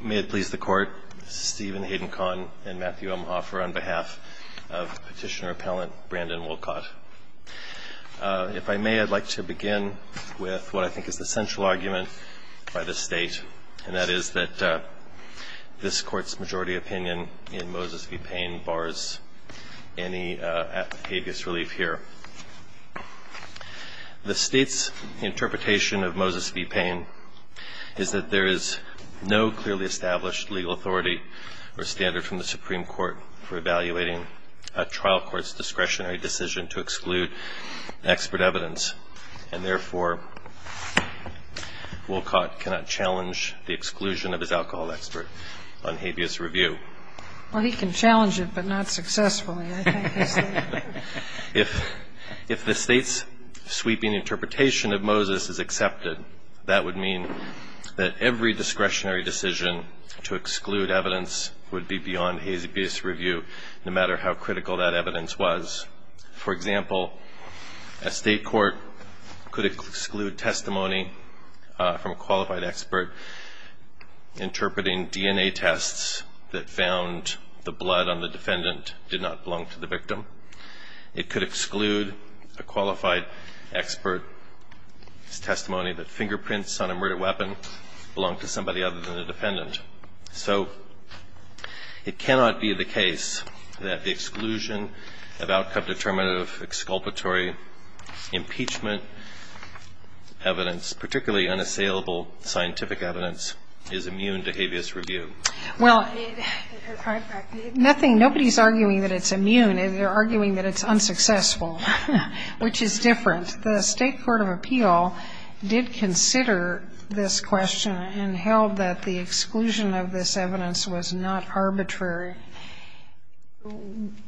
May it please the Court, this is Stephen Hayden-Kahn and Matthew Elmhoffer on behalf of Petitioner-Appellant Brandon Wolcott. If I may, I'd like to begin with what I think is the central argument by this State, and that is that this Court's majority opinion in Moses v. Payne bars any habeas relief here. The State's interpretation of Moses v. Payne is that there is no clearly established legal authority or standard from the Supreme Court for evaluating a trial court's discretionary decision to exclude expert evidence. And therefore, Wolcott cannot challenge the exclusion of his alcohol expert on habeas review. Well, he can challenge it, but not successfully. If the State's sweeping interpretation of Moses is accepted, that would mean that every discretionary decision to exclude evidence would be beyond habeas review, no matter how critical that evidence was. For example, a State court could exclude testimony from a qualified expert interpreting DNA tests that found the blood on the defendant did not belong to the victim. It could exclude a qualified expert's testimony that fingerprints on a murder weapon belong to somebody other than the defendant. So it cannot be the case that the exclusion of outcome-determinative exculpatory impeachment evidence, particularly unassailable scientific evidence, is immune to habeas review. Well, nothing ñ nobody's arguing that it's immune. They're arguing that it's unsuccessful, which is different. And the State court of appeal did consider this question and held that the exclusion of this evidence was not arbitrary.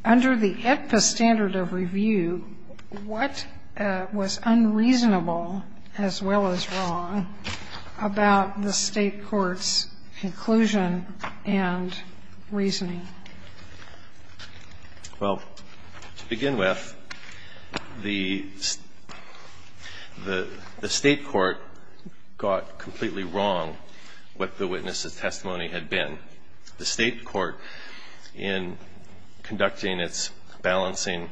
Under the AEDPA standard of review, what was unreasonable, as well as wrong, about the State court's conclusion and reasoning? Well, to begin with, the State court got completely wrong what the witness's testimony had been. The State court, in conducting its balancing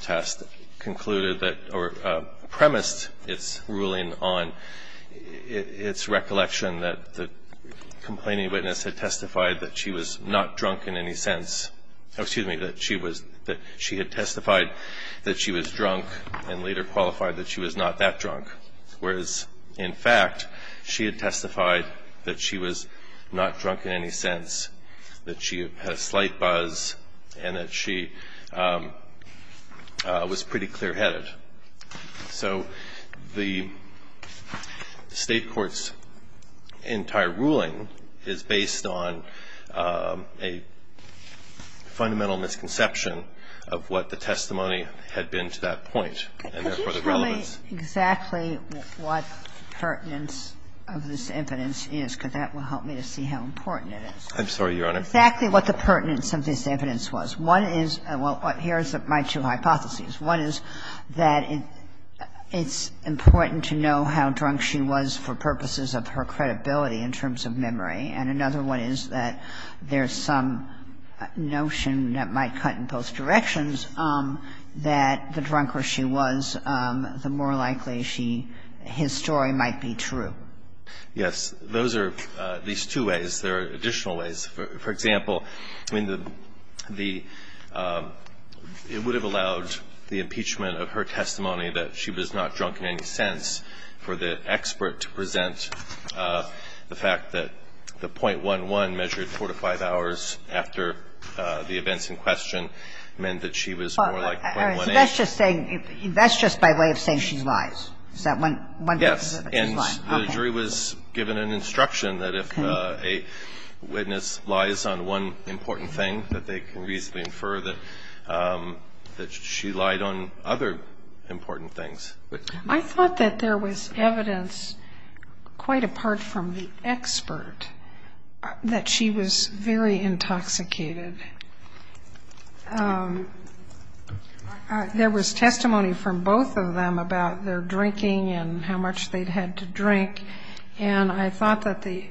test, concluded that ñ or premised its ruling on its recollection that the complaining witness had testified that she was not drunk in any sense. Oh, excuse me, that she was ñ that she had testified that she was drunk and later qualified that she was not that drunk. Whereas, in fact, she had testified that she was not drunk in any sense, that she had a slight buzz, and that she was pretty clearheaded. So the State court's entire ruling is based on a fundamental misconception of what the testimony had been to that point and, therefore, the relevance. Could you tell me exactly what the pertinence of this evidence is? Because that will help me to see how important it is. I'm sorry, Your Honor. Exactly what the pertinence of this evidence was. One is ñ well, here's my two hypotheses. One is that it's important to know how drunk she was for purposes of her credibility in terms of memory, and another one is that there's some notion that might cut in both directions that the drunker she was, the more likely she ñ his story might be true. Yes. Those are at least two ways. There are additional ways. For example, I mean, the ñ it would have allowed the impeachment of her testimony that she was not drunk in any sense for the expert to present the fact that the 0.11 measured 4 to 5 hours after the events in question meant that she was more like 0.18. All right. So that's just saying ñ that's just by way of saying she lies. Is that one? Yes. Okay. The jury was given an instruction that if a witness lies on one important thing, that they can reasonably infer that she lied on other important things. I thought that there was evidence quite apart from the expert that she was very intoxicated. There was testimony from both of them about their drinking and how much they'd had to drink, and I thought that the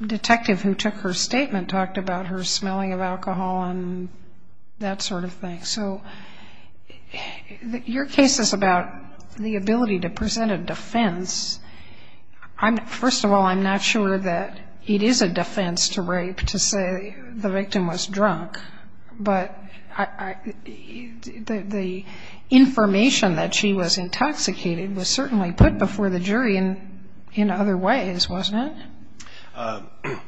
detective who took her statement talked about her smelling of alcohol and that sort of thing. So your case is about the ability to present a defense. First of all, I'm not sure that it is a defense to rape to say the victim was drunk. But the information that she was intoxicated was certainly put before the jury in other ways, wasn't it?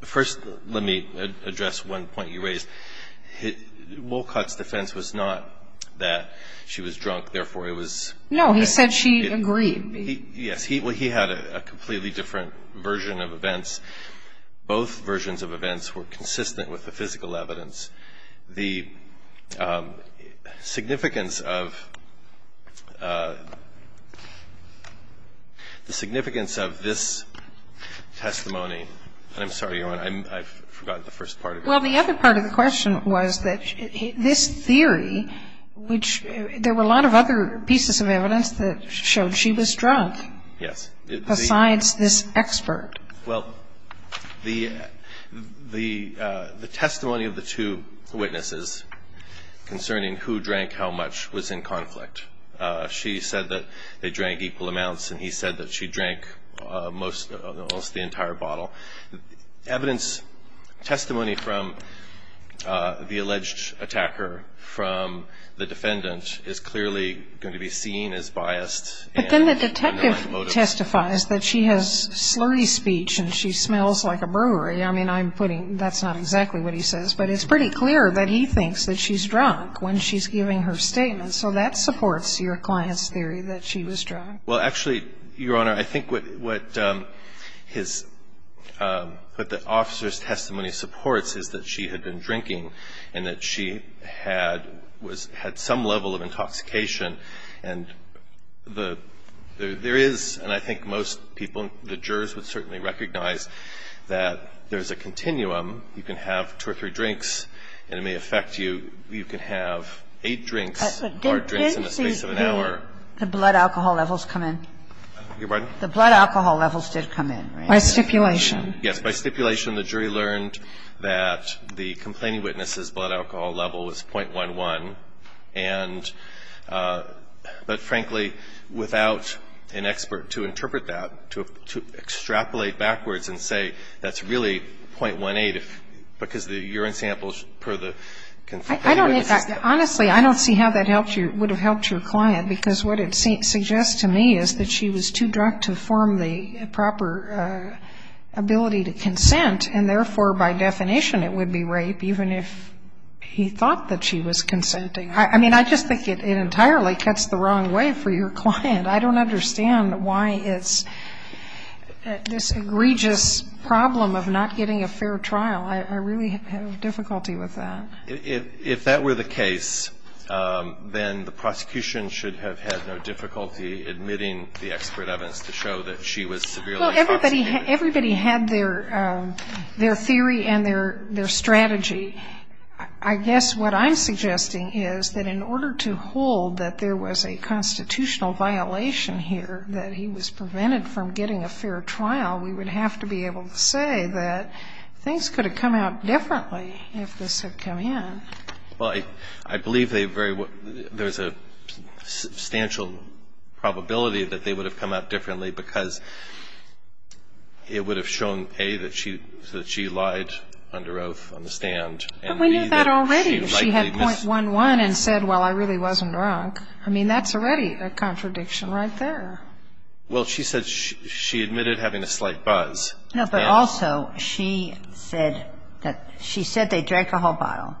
First, let me address one point you raised. Wolcott's defense was not that she was drunk, therefore it was ñ No. He said she agreed. Yes. He had a completely different version of events. Both versions of events were consistent with the physical evidence. The significance of this testimony ñ I'm sorry, Your Honor, I've forgotten the first part of your question. Well, the other part of the question was that this theory, which there were a lot of other pieces of evidence that showed she was drunk. Yes. Besides this expert. Well, the testimony of the two witnesses concerning who drank how much was in conflict. She said that they drank equal amounts and he said that she drank most ñ almost the entire bottle. Evidence ñ testimony from the alleged attacker from the defendant is clearly going to be seen as biased. But then the detective testifies that she has slurry speech and she smells like a brewery. I mean, I'm putting ñ that's not exactly what he says. But it's pretty clear that he thinks that she's drunk when she's giving her statement. So that supports your client's theory that she was drunk. Well, actually, Your Honor, I think what his ñ what the officer's testimony supports is that she had been drinking and that she had ñ was ñ had some level of intoxication. And the ñ there is, and I think most people, the jurors would certainly recognize that there's a continuum. You can have two or three drinks and it may affect you. You can have eight drinks, hard drinks in the space of an hour. Didn't the blood alcohol levels come in? Your pardon? The blood alcohol levels did come in, right? By stipulation. Yes. By stipulation, the jury learned that the complaining witness's blood alcohol level was 0.11 and ñ but, frankly, without an expert to interpret that, to extrapolate backwards and say that's really 0.18 because the urine samples per the complaining witness. I don't ñ honestly, I don't see how that helped you ñ would have helped your client because what it suggests to me is that she was too drunk to form the proper ability to consent and, therefore, by definition it would be rape even if he thought that she was consenting. I mean, I just think it entirely cuts the wrong way for your client. I don't understand why it's this egregious problem of not getting a fair trial. I really have difficulty with that. If that were the case, then the prosecution should have had no difficulty admitting the expert evidence to show that she was severely intoxicated. Everybody had their theory and their strategy. I guess what I'm suggesting is that in order to hold that there was a constitutional violation here, that he was prevented from getting a fair trial, we would have to be able to say that things could have come out differently if this had come in. Well, I believe they very ñ there's a substantial probability that they would have come out differently because it would have shown, A, that she lied under oath on the stand. But we knew that already. She had .11 and said, well, I really wasn't drunk. I mean, that's already a contradiction right there. Well, she said she admitted having a slight buzz. No, but also she said that ñ she said they drank a whole bottle.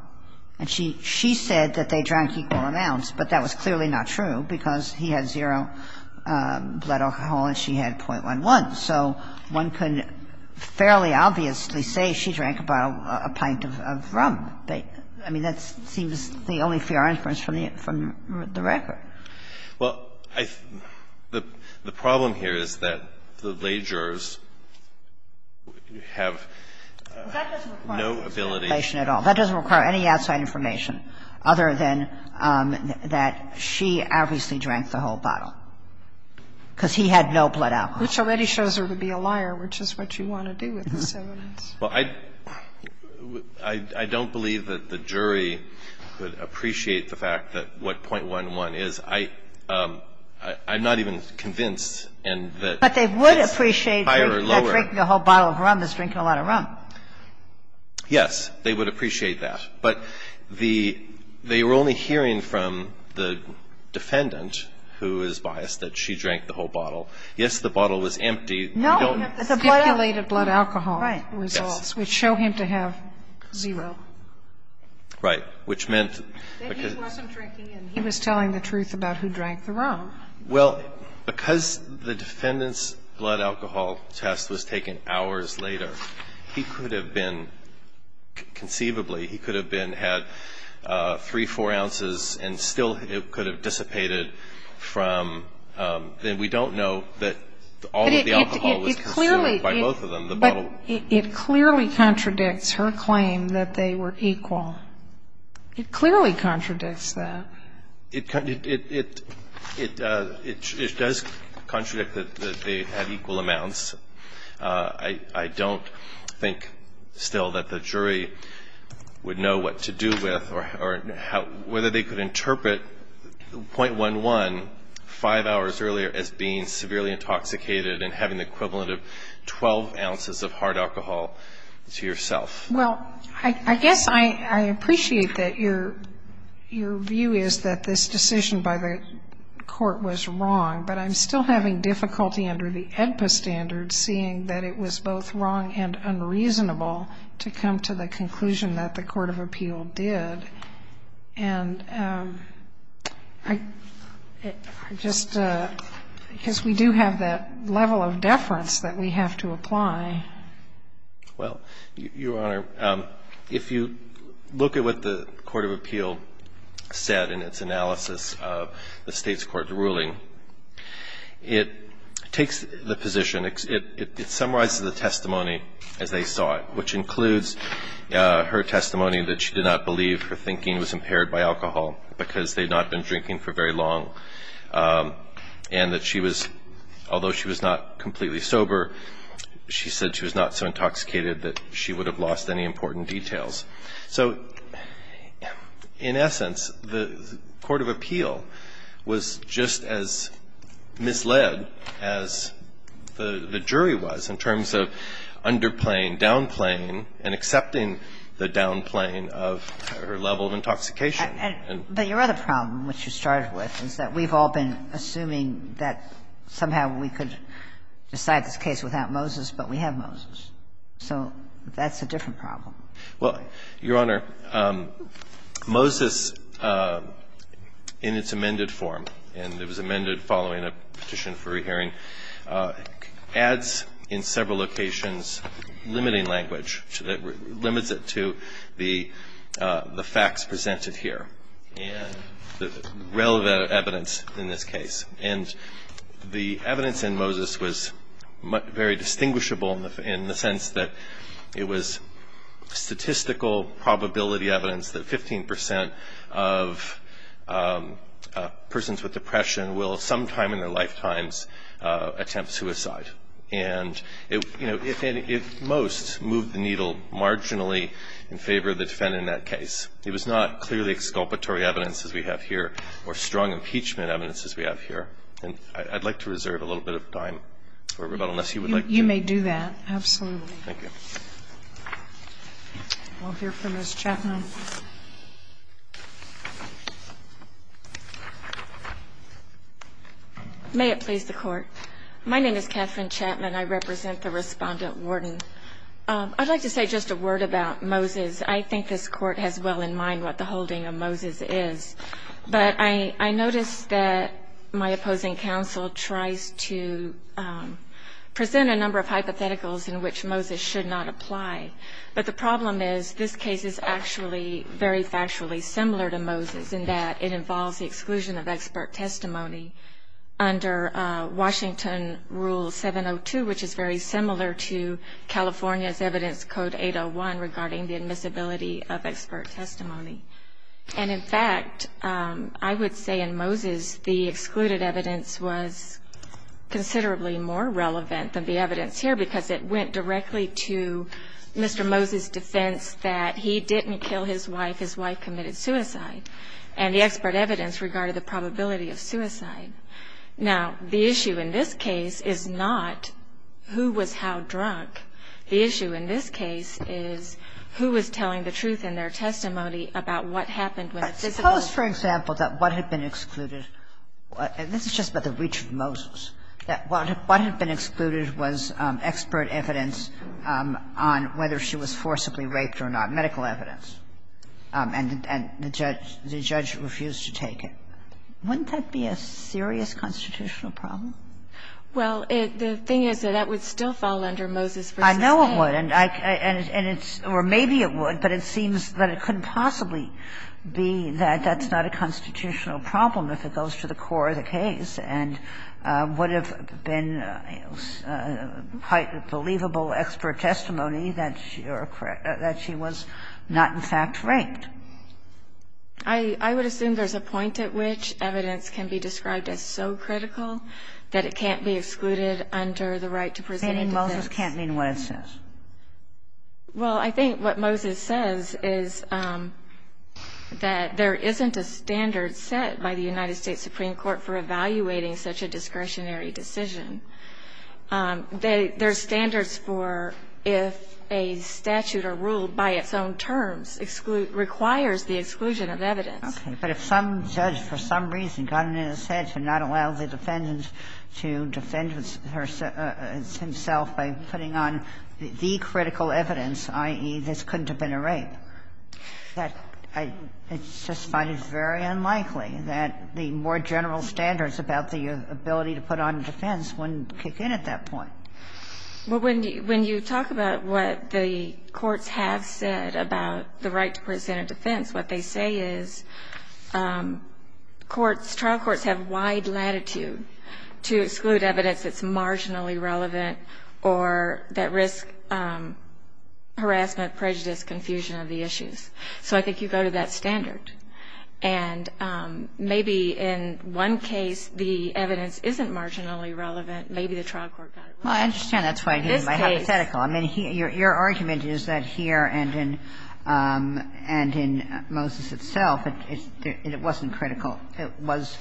And she said that they drank equal amounts. But that was clearly not true because he had zero blood alcohol and she had .11. So one can fairly obviously say she drank a bottle ñ a pint of rum. But, I mean, that seems the only fair inference from the record. Well, I ñ the problem here is that the legers have no ability ñ Well, that doesn't require any information at all. other than that she obviously drank the whole bottle because he had no blood alcohol. Which already shows her to be a liar, which is what you want to do with this evidence. Well, I ñ I don't believe that the jury would appreciate the fact that what .11 is. I ñ I'm not even convinced in that it's higher or lower. But they would appreciate that drinking a whole bottle of rum is drinking a lot of rum. Yes. They would appreciate that. But the ñ they were only hearing from the defendant, who is biased, that she drank the whole bottle. Yes, the bottle was empty. No. We don't have the stipulated blood alcohol results. Right. Yes. Which show him to have zero. Right. Which meant because ñ That he wasn't drinking and he was telling the truth about who drank the rum. Well, because the defendant's blood alcohol test was taken hours later, he could have been, conceivably, he could have been had three, four ounces and still it could have dissipated from ñ and we don't know that all of the alcohol was consumed by both of them. But it clearly ñ The bottle. But it clearly contradicts her claim that they were equal. It clearly contradicts that. It ñ it does contradict that they had equal amounts. I don't think still that the jury would know what to do with or how ñ whether they could interpret .11 five hours earlier as being severely intoxicated and having the equivalent of 12 ounces of hard alcohol to yourself. Well, I guess I appreciate that your ñ your view is that this decision by the court was wrong, but I'm still having difficulty under the AEDPA standards seeing that it was both wrong and unreasonable to come to the conclusion that the court of appeal did. And I just ñ because we do have that level of deference that we have to apply. Well, Your Honor, if you look at what the court of appeal said in its analysis of the state's court ruling, it takes the position ñ it summarizes the testimony as they saw it, which includes her testimony that she did not believe her thinking was impaired by alcohol because they had not been drinking for very long, and that she was ñ although she was not completely sober, she said she was not so intoxicated that she would have lost any important details. So in essence, the court of appeal was just as misled as the jury was in terms of underplaying, downplaying, and accepting the downplaying of her level of intoxication. But your other problem, which you started with, is that we've all been assuming that somehow we could decide this case without Moses, but we have Moses. So that's a different problem. Well, Your Honor, Moses, in its amended form, and it was amended following a petition for rehearing, adds in several locations limiting language that limits it to the facts presented here and the relevant evidence in this case. And the evidence in Moses was very distinguishable in the sense that it was statistical probability evidence that 15 percent of persons with depression will sometime in their lifetimes attempt suicide. And, you know, if most moved the needle marginally in favor of the defendant in that case, it was not clearly exculpatory evidence, as we have here, or strong impeachment evidence, as we have here. And I'd like to reserve a little bit of time for rebuttal unless you would like to. You may do that, absolutely. Thank you. We'll hear from Ms. Chapman. May it please the Court. My name is Catherine Chapman. I represent the Respondent-Warden. I'd like to say just a word about Moses. I think this Court has well in mind what the holding of Moses is. But I notice that my opposing counsel tries to present a number of hypotheticals in which Moses should not apply. But the problem is this case is actually very factually similar to Moses in that it involves the exclusion of expert testimony under Washington Rule 702, which is very similar to California's Evidence Code 801 regarding the admissibility of expert testimony. And, in fact, I would say in Moses the excluded evidence was considerably more relevant than the evidence here because it went directly to Mr. Moses' defense that he didn't kill his wife, his wife committed suicide. And the expert evidence regarded the probability of suicide. Now, the issue in this case is not who was how drunk. The issue in this case is who was telling the truth in their testimony about what happened when a physical. But suppose, for example, that what had been excluded, and this is just by the reach of Moses, that what had been excluded was expert evidence on whether she was forcibly raped or not, medical evidence, and the judge refused to take it. Wouldn't that be a serious constitutional problem? Well, the thing is that that would still fall under Moses v. Hayes. I know it would, and it's or maybe it would, but it seems that it couldn't possibly be that that's not a constitutional problem if it goes to the core of the case and would have been quite believable expert testimony that she was not in fact raped. I would assume there's a point at which evidence can be described as so critical that it can't be excluded under the right to present a defense. You mean Moses can't mean what it says? Well, I think what Moses says is that there isn't a standard set by the United States Supreme Court for evaluating such a discretionary decision. There's standards for if a statute or rule by its own terms requires the exclusion of evidence. Okay. But if some judge for some reason got it in his head to not allow the defendant to defend himself by putting on the critical evidence, i.e., this couldn't have been a rape, that I just find it very unlikely that the more general standards about the ability to put on defense wouldn't kick in at that point. Well, when you talk about what the courts have said about the right to present a defense, what they say is courts, trial courts have wide latitude to exclude evidence that's marginally relevant or that risks harassment, prejudice, confusion of the issues. So I think you go to that standard. And maybe in one case the evidence isn't marginally relevant. Maybe the trial court got it right. Well, I understand that's why it's hypothetical. I mean, your argument is that here and in Moses itself, it wasn't critical. It was,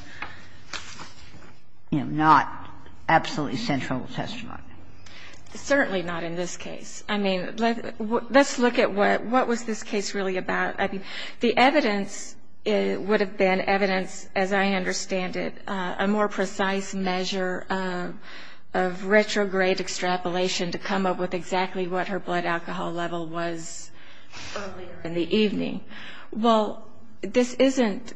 you know, not absolutely central testimony. Certainly not in this case. I mean, let's look at what was this case really about. I mean, the evidence would have been evidence, as I understand it, a more precise measure of retrograde extrapolation to come up with exactly what her blood alcohol level was earlier in the evening. Well, this isn't a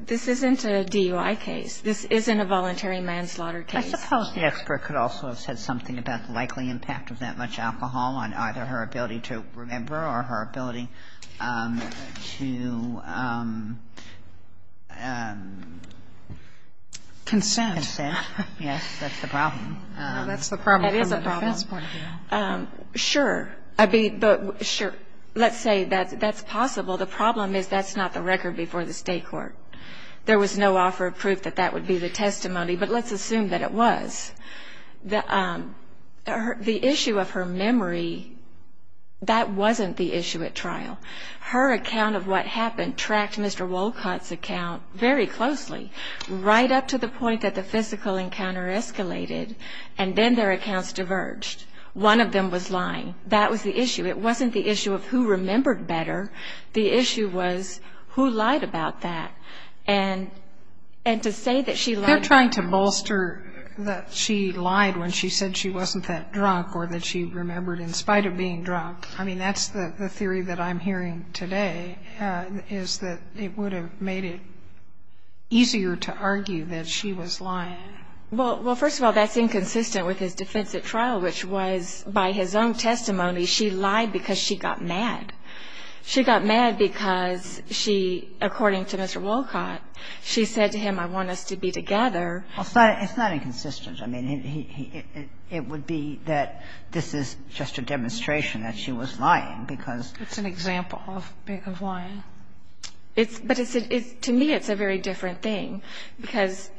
DUI case. This isn't a voluntary manslaughter case. I suppose the expert could also have said something about the likely impact of that much alcohol on either her ability to remember or her ability to consent. Yes, that's the problem. Well, that's the problem from a defense point of view. That is a problem. Sure. I mean, sure. Let's say that's possible. The problem is that's not the record before the State court. There was no offer of proof that that would be the testimony. But let's assume that it was. The issue of her memory, that wasn't the issue at trial. Her account of what happened tracked Mr. Wolcott's account very closely, right up to the point that the physical encounter escalated, and then their accounts diverged. One of them was lying. That was the issue. It wasn't the issue of who remembered better. The issue was who lied about that. And to say that she lied about that. They're trying to bolster that she lied when she said she wasn't that drunk or that she remembered, in spite of being drunk. I mean, that's the theory that I'm hearing today, is that it would have made it easier to argue that she was lying. Well, first of all, that's inconsistent with his defense at trial, which was by his own testimony, she lied because she got mad. She got mad because she, according to Mr. Wolcott, she said to him, I want us to be together. It's not inconsistent. I mean, it would be that this is just a demonstration that she was lying, because. It's an example of lying. But to me, it's a very different thing, because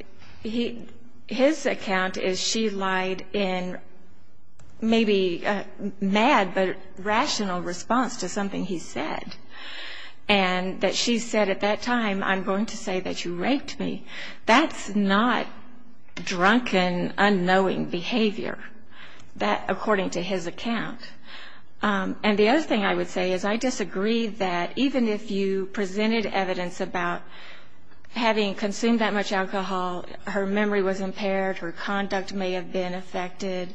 his account is she lied in maybe mad, but rational response to something he said. And that she said at that time, I'm going to say that you raped me. That's not drunken, unknowing behavior, according to his account. And the other thing I would say is I disagree that even if you presented evidence about having consumed that much alcohol, her memory was impaired, her conduct may have been affected.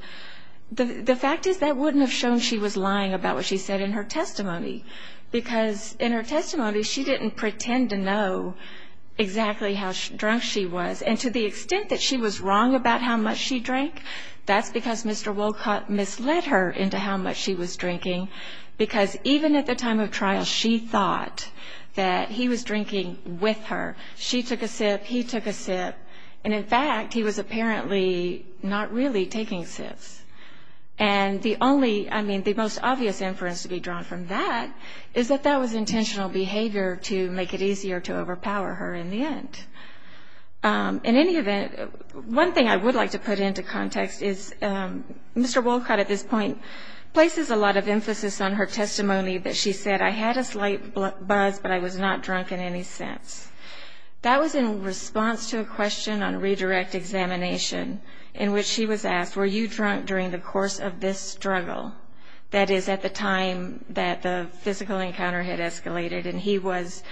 The fact is that wouldn't have shown she was lying about what she said in her testimony, because in her testimony, she didn't pretend to know exactly how drunk she was. And to the extent that she was wrong about how much she drank, that's because Mr. Wolcott misled her into how much she was drinking, because even at the time of trial, she thought that he was drinking with her. She took a sip, he took a sip. And, in fact, he was apparently not really taking sips. And the only, I mean, the most obvious inference to be drawn from that is that that was intentional behavior to make it easier to overpower her in the end. In any event, one thing I would like to put into context is Mr. Wolcott at this point places a lot of emphasis on her testimony that she said, I had a slight buzz, but I was not drunk in any sense. That was in response to a question on redirect examination in which she was asked, were you drunk during the course of this struggle? That is, at the time that the physical encounter had escalated, and he was,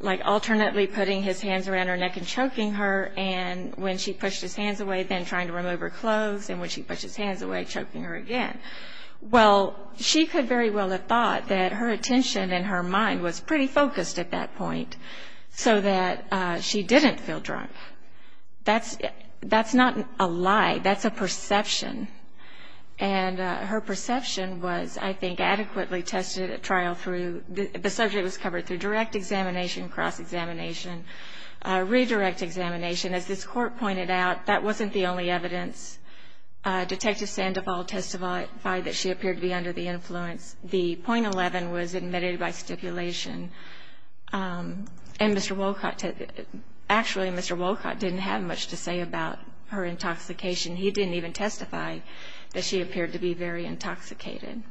like, alternately putting his hands around her neck and choking her, and when she pushed his hands away, then trying to remove her clothes, and when she pushed his hands away, choking her again. Well, she could very well have thought that her attention and her mind was pretty focused at that point, so that she didn't feel drunk. That's not a lie. That's a perception. And her perception was, I think, adequately tested at trial through, the subject was covered through direct examination, cross-examination, redirect examination. As this Court pointed out, that wasn't the only evidence. Detective Sandoval testified that she appeared to be under the influence. The .11 was admitted by stipulation. And Mr. Wolcott, actually, Mr. Wolcott didn't have much to say about her intoxication. He didn't even testify that she appeared to be very intoxicated.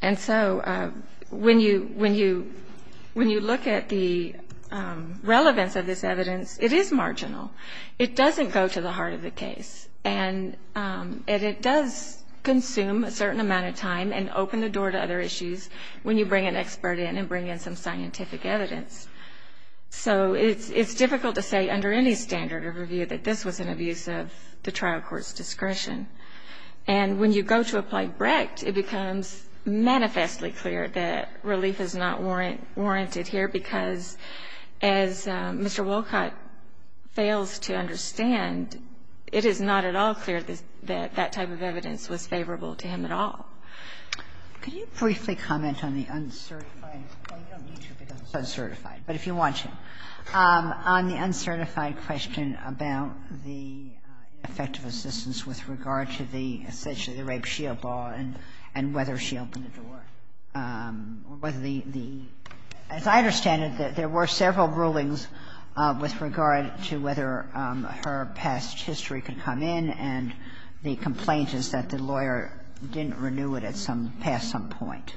And so when you look at the relevance of this evidence, it is marginal. It doesn't go to the heart of the case, and it does consume a certain amount of time and open the door to other issues when you bring an expert in and bring in some scientific evidence. So it's difficult to say under any standard of review that this was an abuse of the trial court's discretion. And when you go to apply Brecht, it becomes manifestly clear that relief is not warranted here because, as Mr. Wolcott fails to understand, it is not at all clear that that type of evidence was favorable to him at all. Could you briefly comment on the uncertified? Well, you don't need to because it's uncertified, but if you want to. On the uncertified question about the ineffective assistance with regard to the rape shield ball and whether she opened the door, whether the – as I understand it, there were several rulings with regard to whether her past history could come in and the complaint is that the lawyer didn't renew it at some – past some point.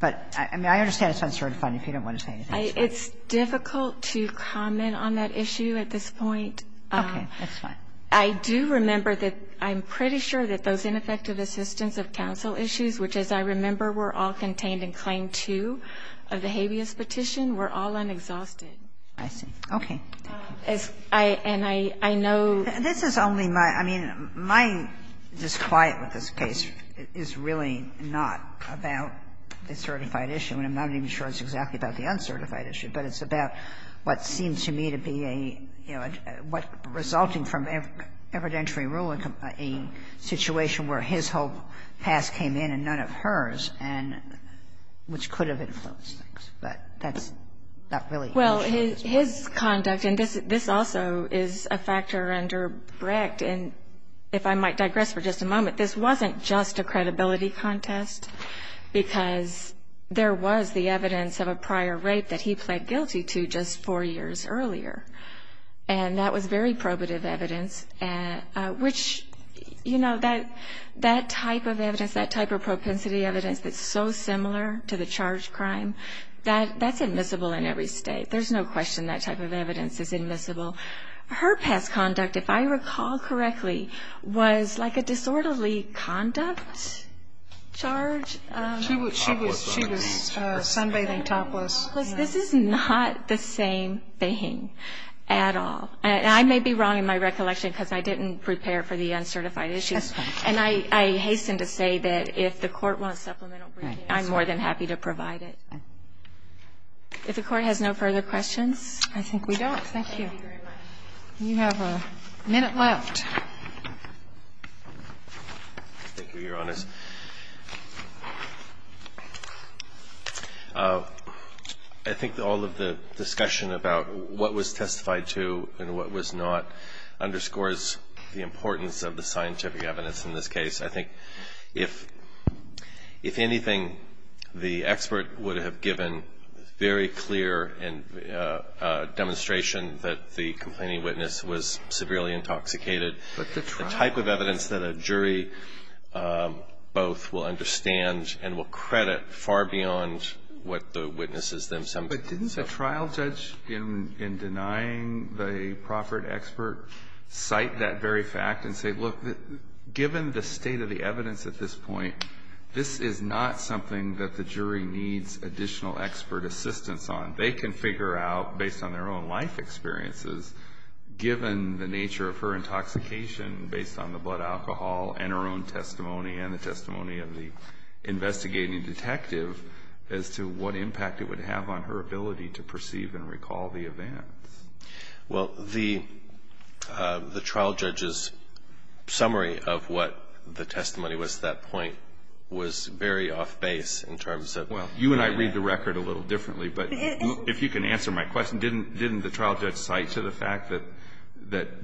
But, I mean, I understand it's uncertified if you don't want to say anything. It's difficult to comment on that issue at this point. Okay. That's fine. I do remember that I'm pretty sure that those ineffective assistance of counsel issues, which, as I remember, were all contained in Claim 2 of the habeas petition, were all unexhausted. I see. Okay. And I know – This is only my – I mean, my disquiet with this case is really not about the certified issue, and I'm not even sure it's exactly about the uncertified issue, but it's about what seems to me to be a, you know, what resulting from evidentiary ruling, a situation where his whole past came in and none of hers, and which could have influenced things, but that's not really the issue. Well, his conduct, and this also is a factor under Brecht, and if I might digress for just a moment, this wasn't just a credibility contest because there was the evidence of a prior rape that he pled guilty to just four years earlier. And that was very probative evidence, which, you know, that type of evidence, that type of propensity evidence that's so similar to the charged crime, that's admissible in every state. There's no question that type of evidence is admissible. Her past conduct, if I recall correctly, was like a disorderly conduct charge. She was sunbathing topless. Sunbathing topless. This is not the same thing at all. And I may be wrong in my recollection because I didn't prepare for the uncertified issues. That's fine. And I hasten to say that if the court wants supplemental briefing, I'm more than happy to provide it. If the Court has no further questions. I think we don't. Thank you. Thank you very much. You have a minute left. Thank you, Your Honor. I think all of the discussion about what was testified to and what was not underscores the importance of the scientific evidence in this case. I think if anything, the expert would have given very clear demonstration that the complaining witness was severely intoxicated, the type of evidence that a jury both will understand and will credit far beyond what the witnesses themselves have. But didn't the trial judge, in denying the proffered expert, cite that very fact and say, look, given the state of the evidence at this point, this is not something that the jury needs additional expert assistance on. They can figure out, based on their own life experiences, given the nature of her intoxication based on the blood alcohol and her own testimony and the testimony of the investigating detective, as to what impact it would have on her ability to perceive and recall the events. Well, the trial judge's summary of what the testimony was at that point was very off base in terms of the evidence. Well, you and I read the record a little differently, but if you can answer my question, didn't the trial judge cite to the fact that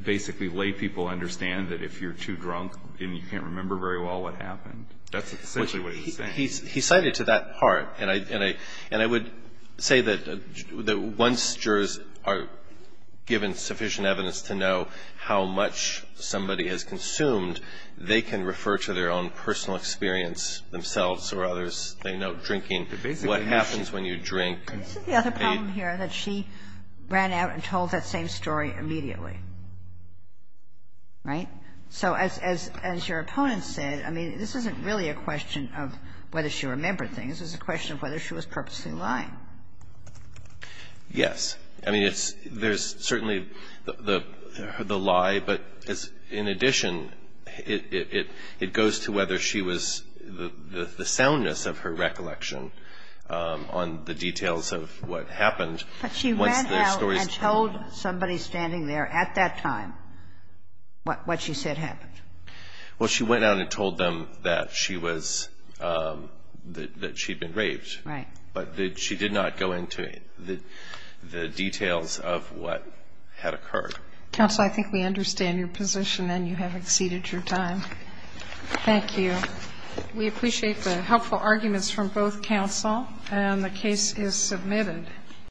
basically lay people understand that if you're too drunk and you can't remember very well what happened? That's essentially what he's saying. He cited to that part, and I would say that once jurors are given sufficient evidence to know how much somebody has consumed, they can refer to their own personal experience themselves or others they know, drinking, what happens when you drink. This is the other problem here, that she ran out and told that same story immediately. Right? So as your opponent said, I mean, this isn't really a question of whether she remembered things. It's a question of whether she was purposely lying. Yes. I mean, there's certainly the lie, but in addition, it goes to whether she was the soundness of her recollection on the details of what happened once the story was told. And told somebody standing there at that time what she said happened. Well, she went out and told them that she was, that she'd been raped. Right. But she did not go into the details of what had occurred. Counsel, I think we understand your position, and you have exceeded your time. Thank you. We appreciate the helpful arguments from both counsel, and the case is submitted.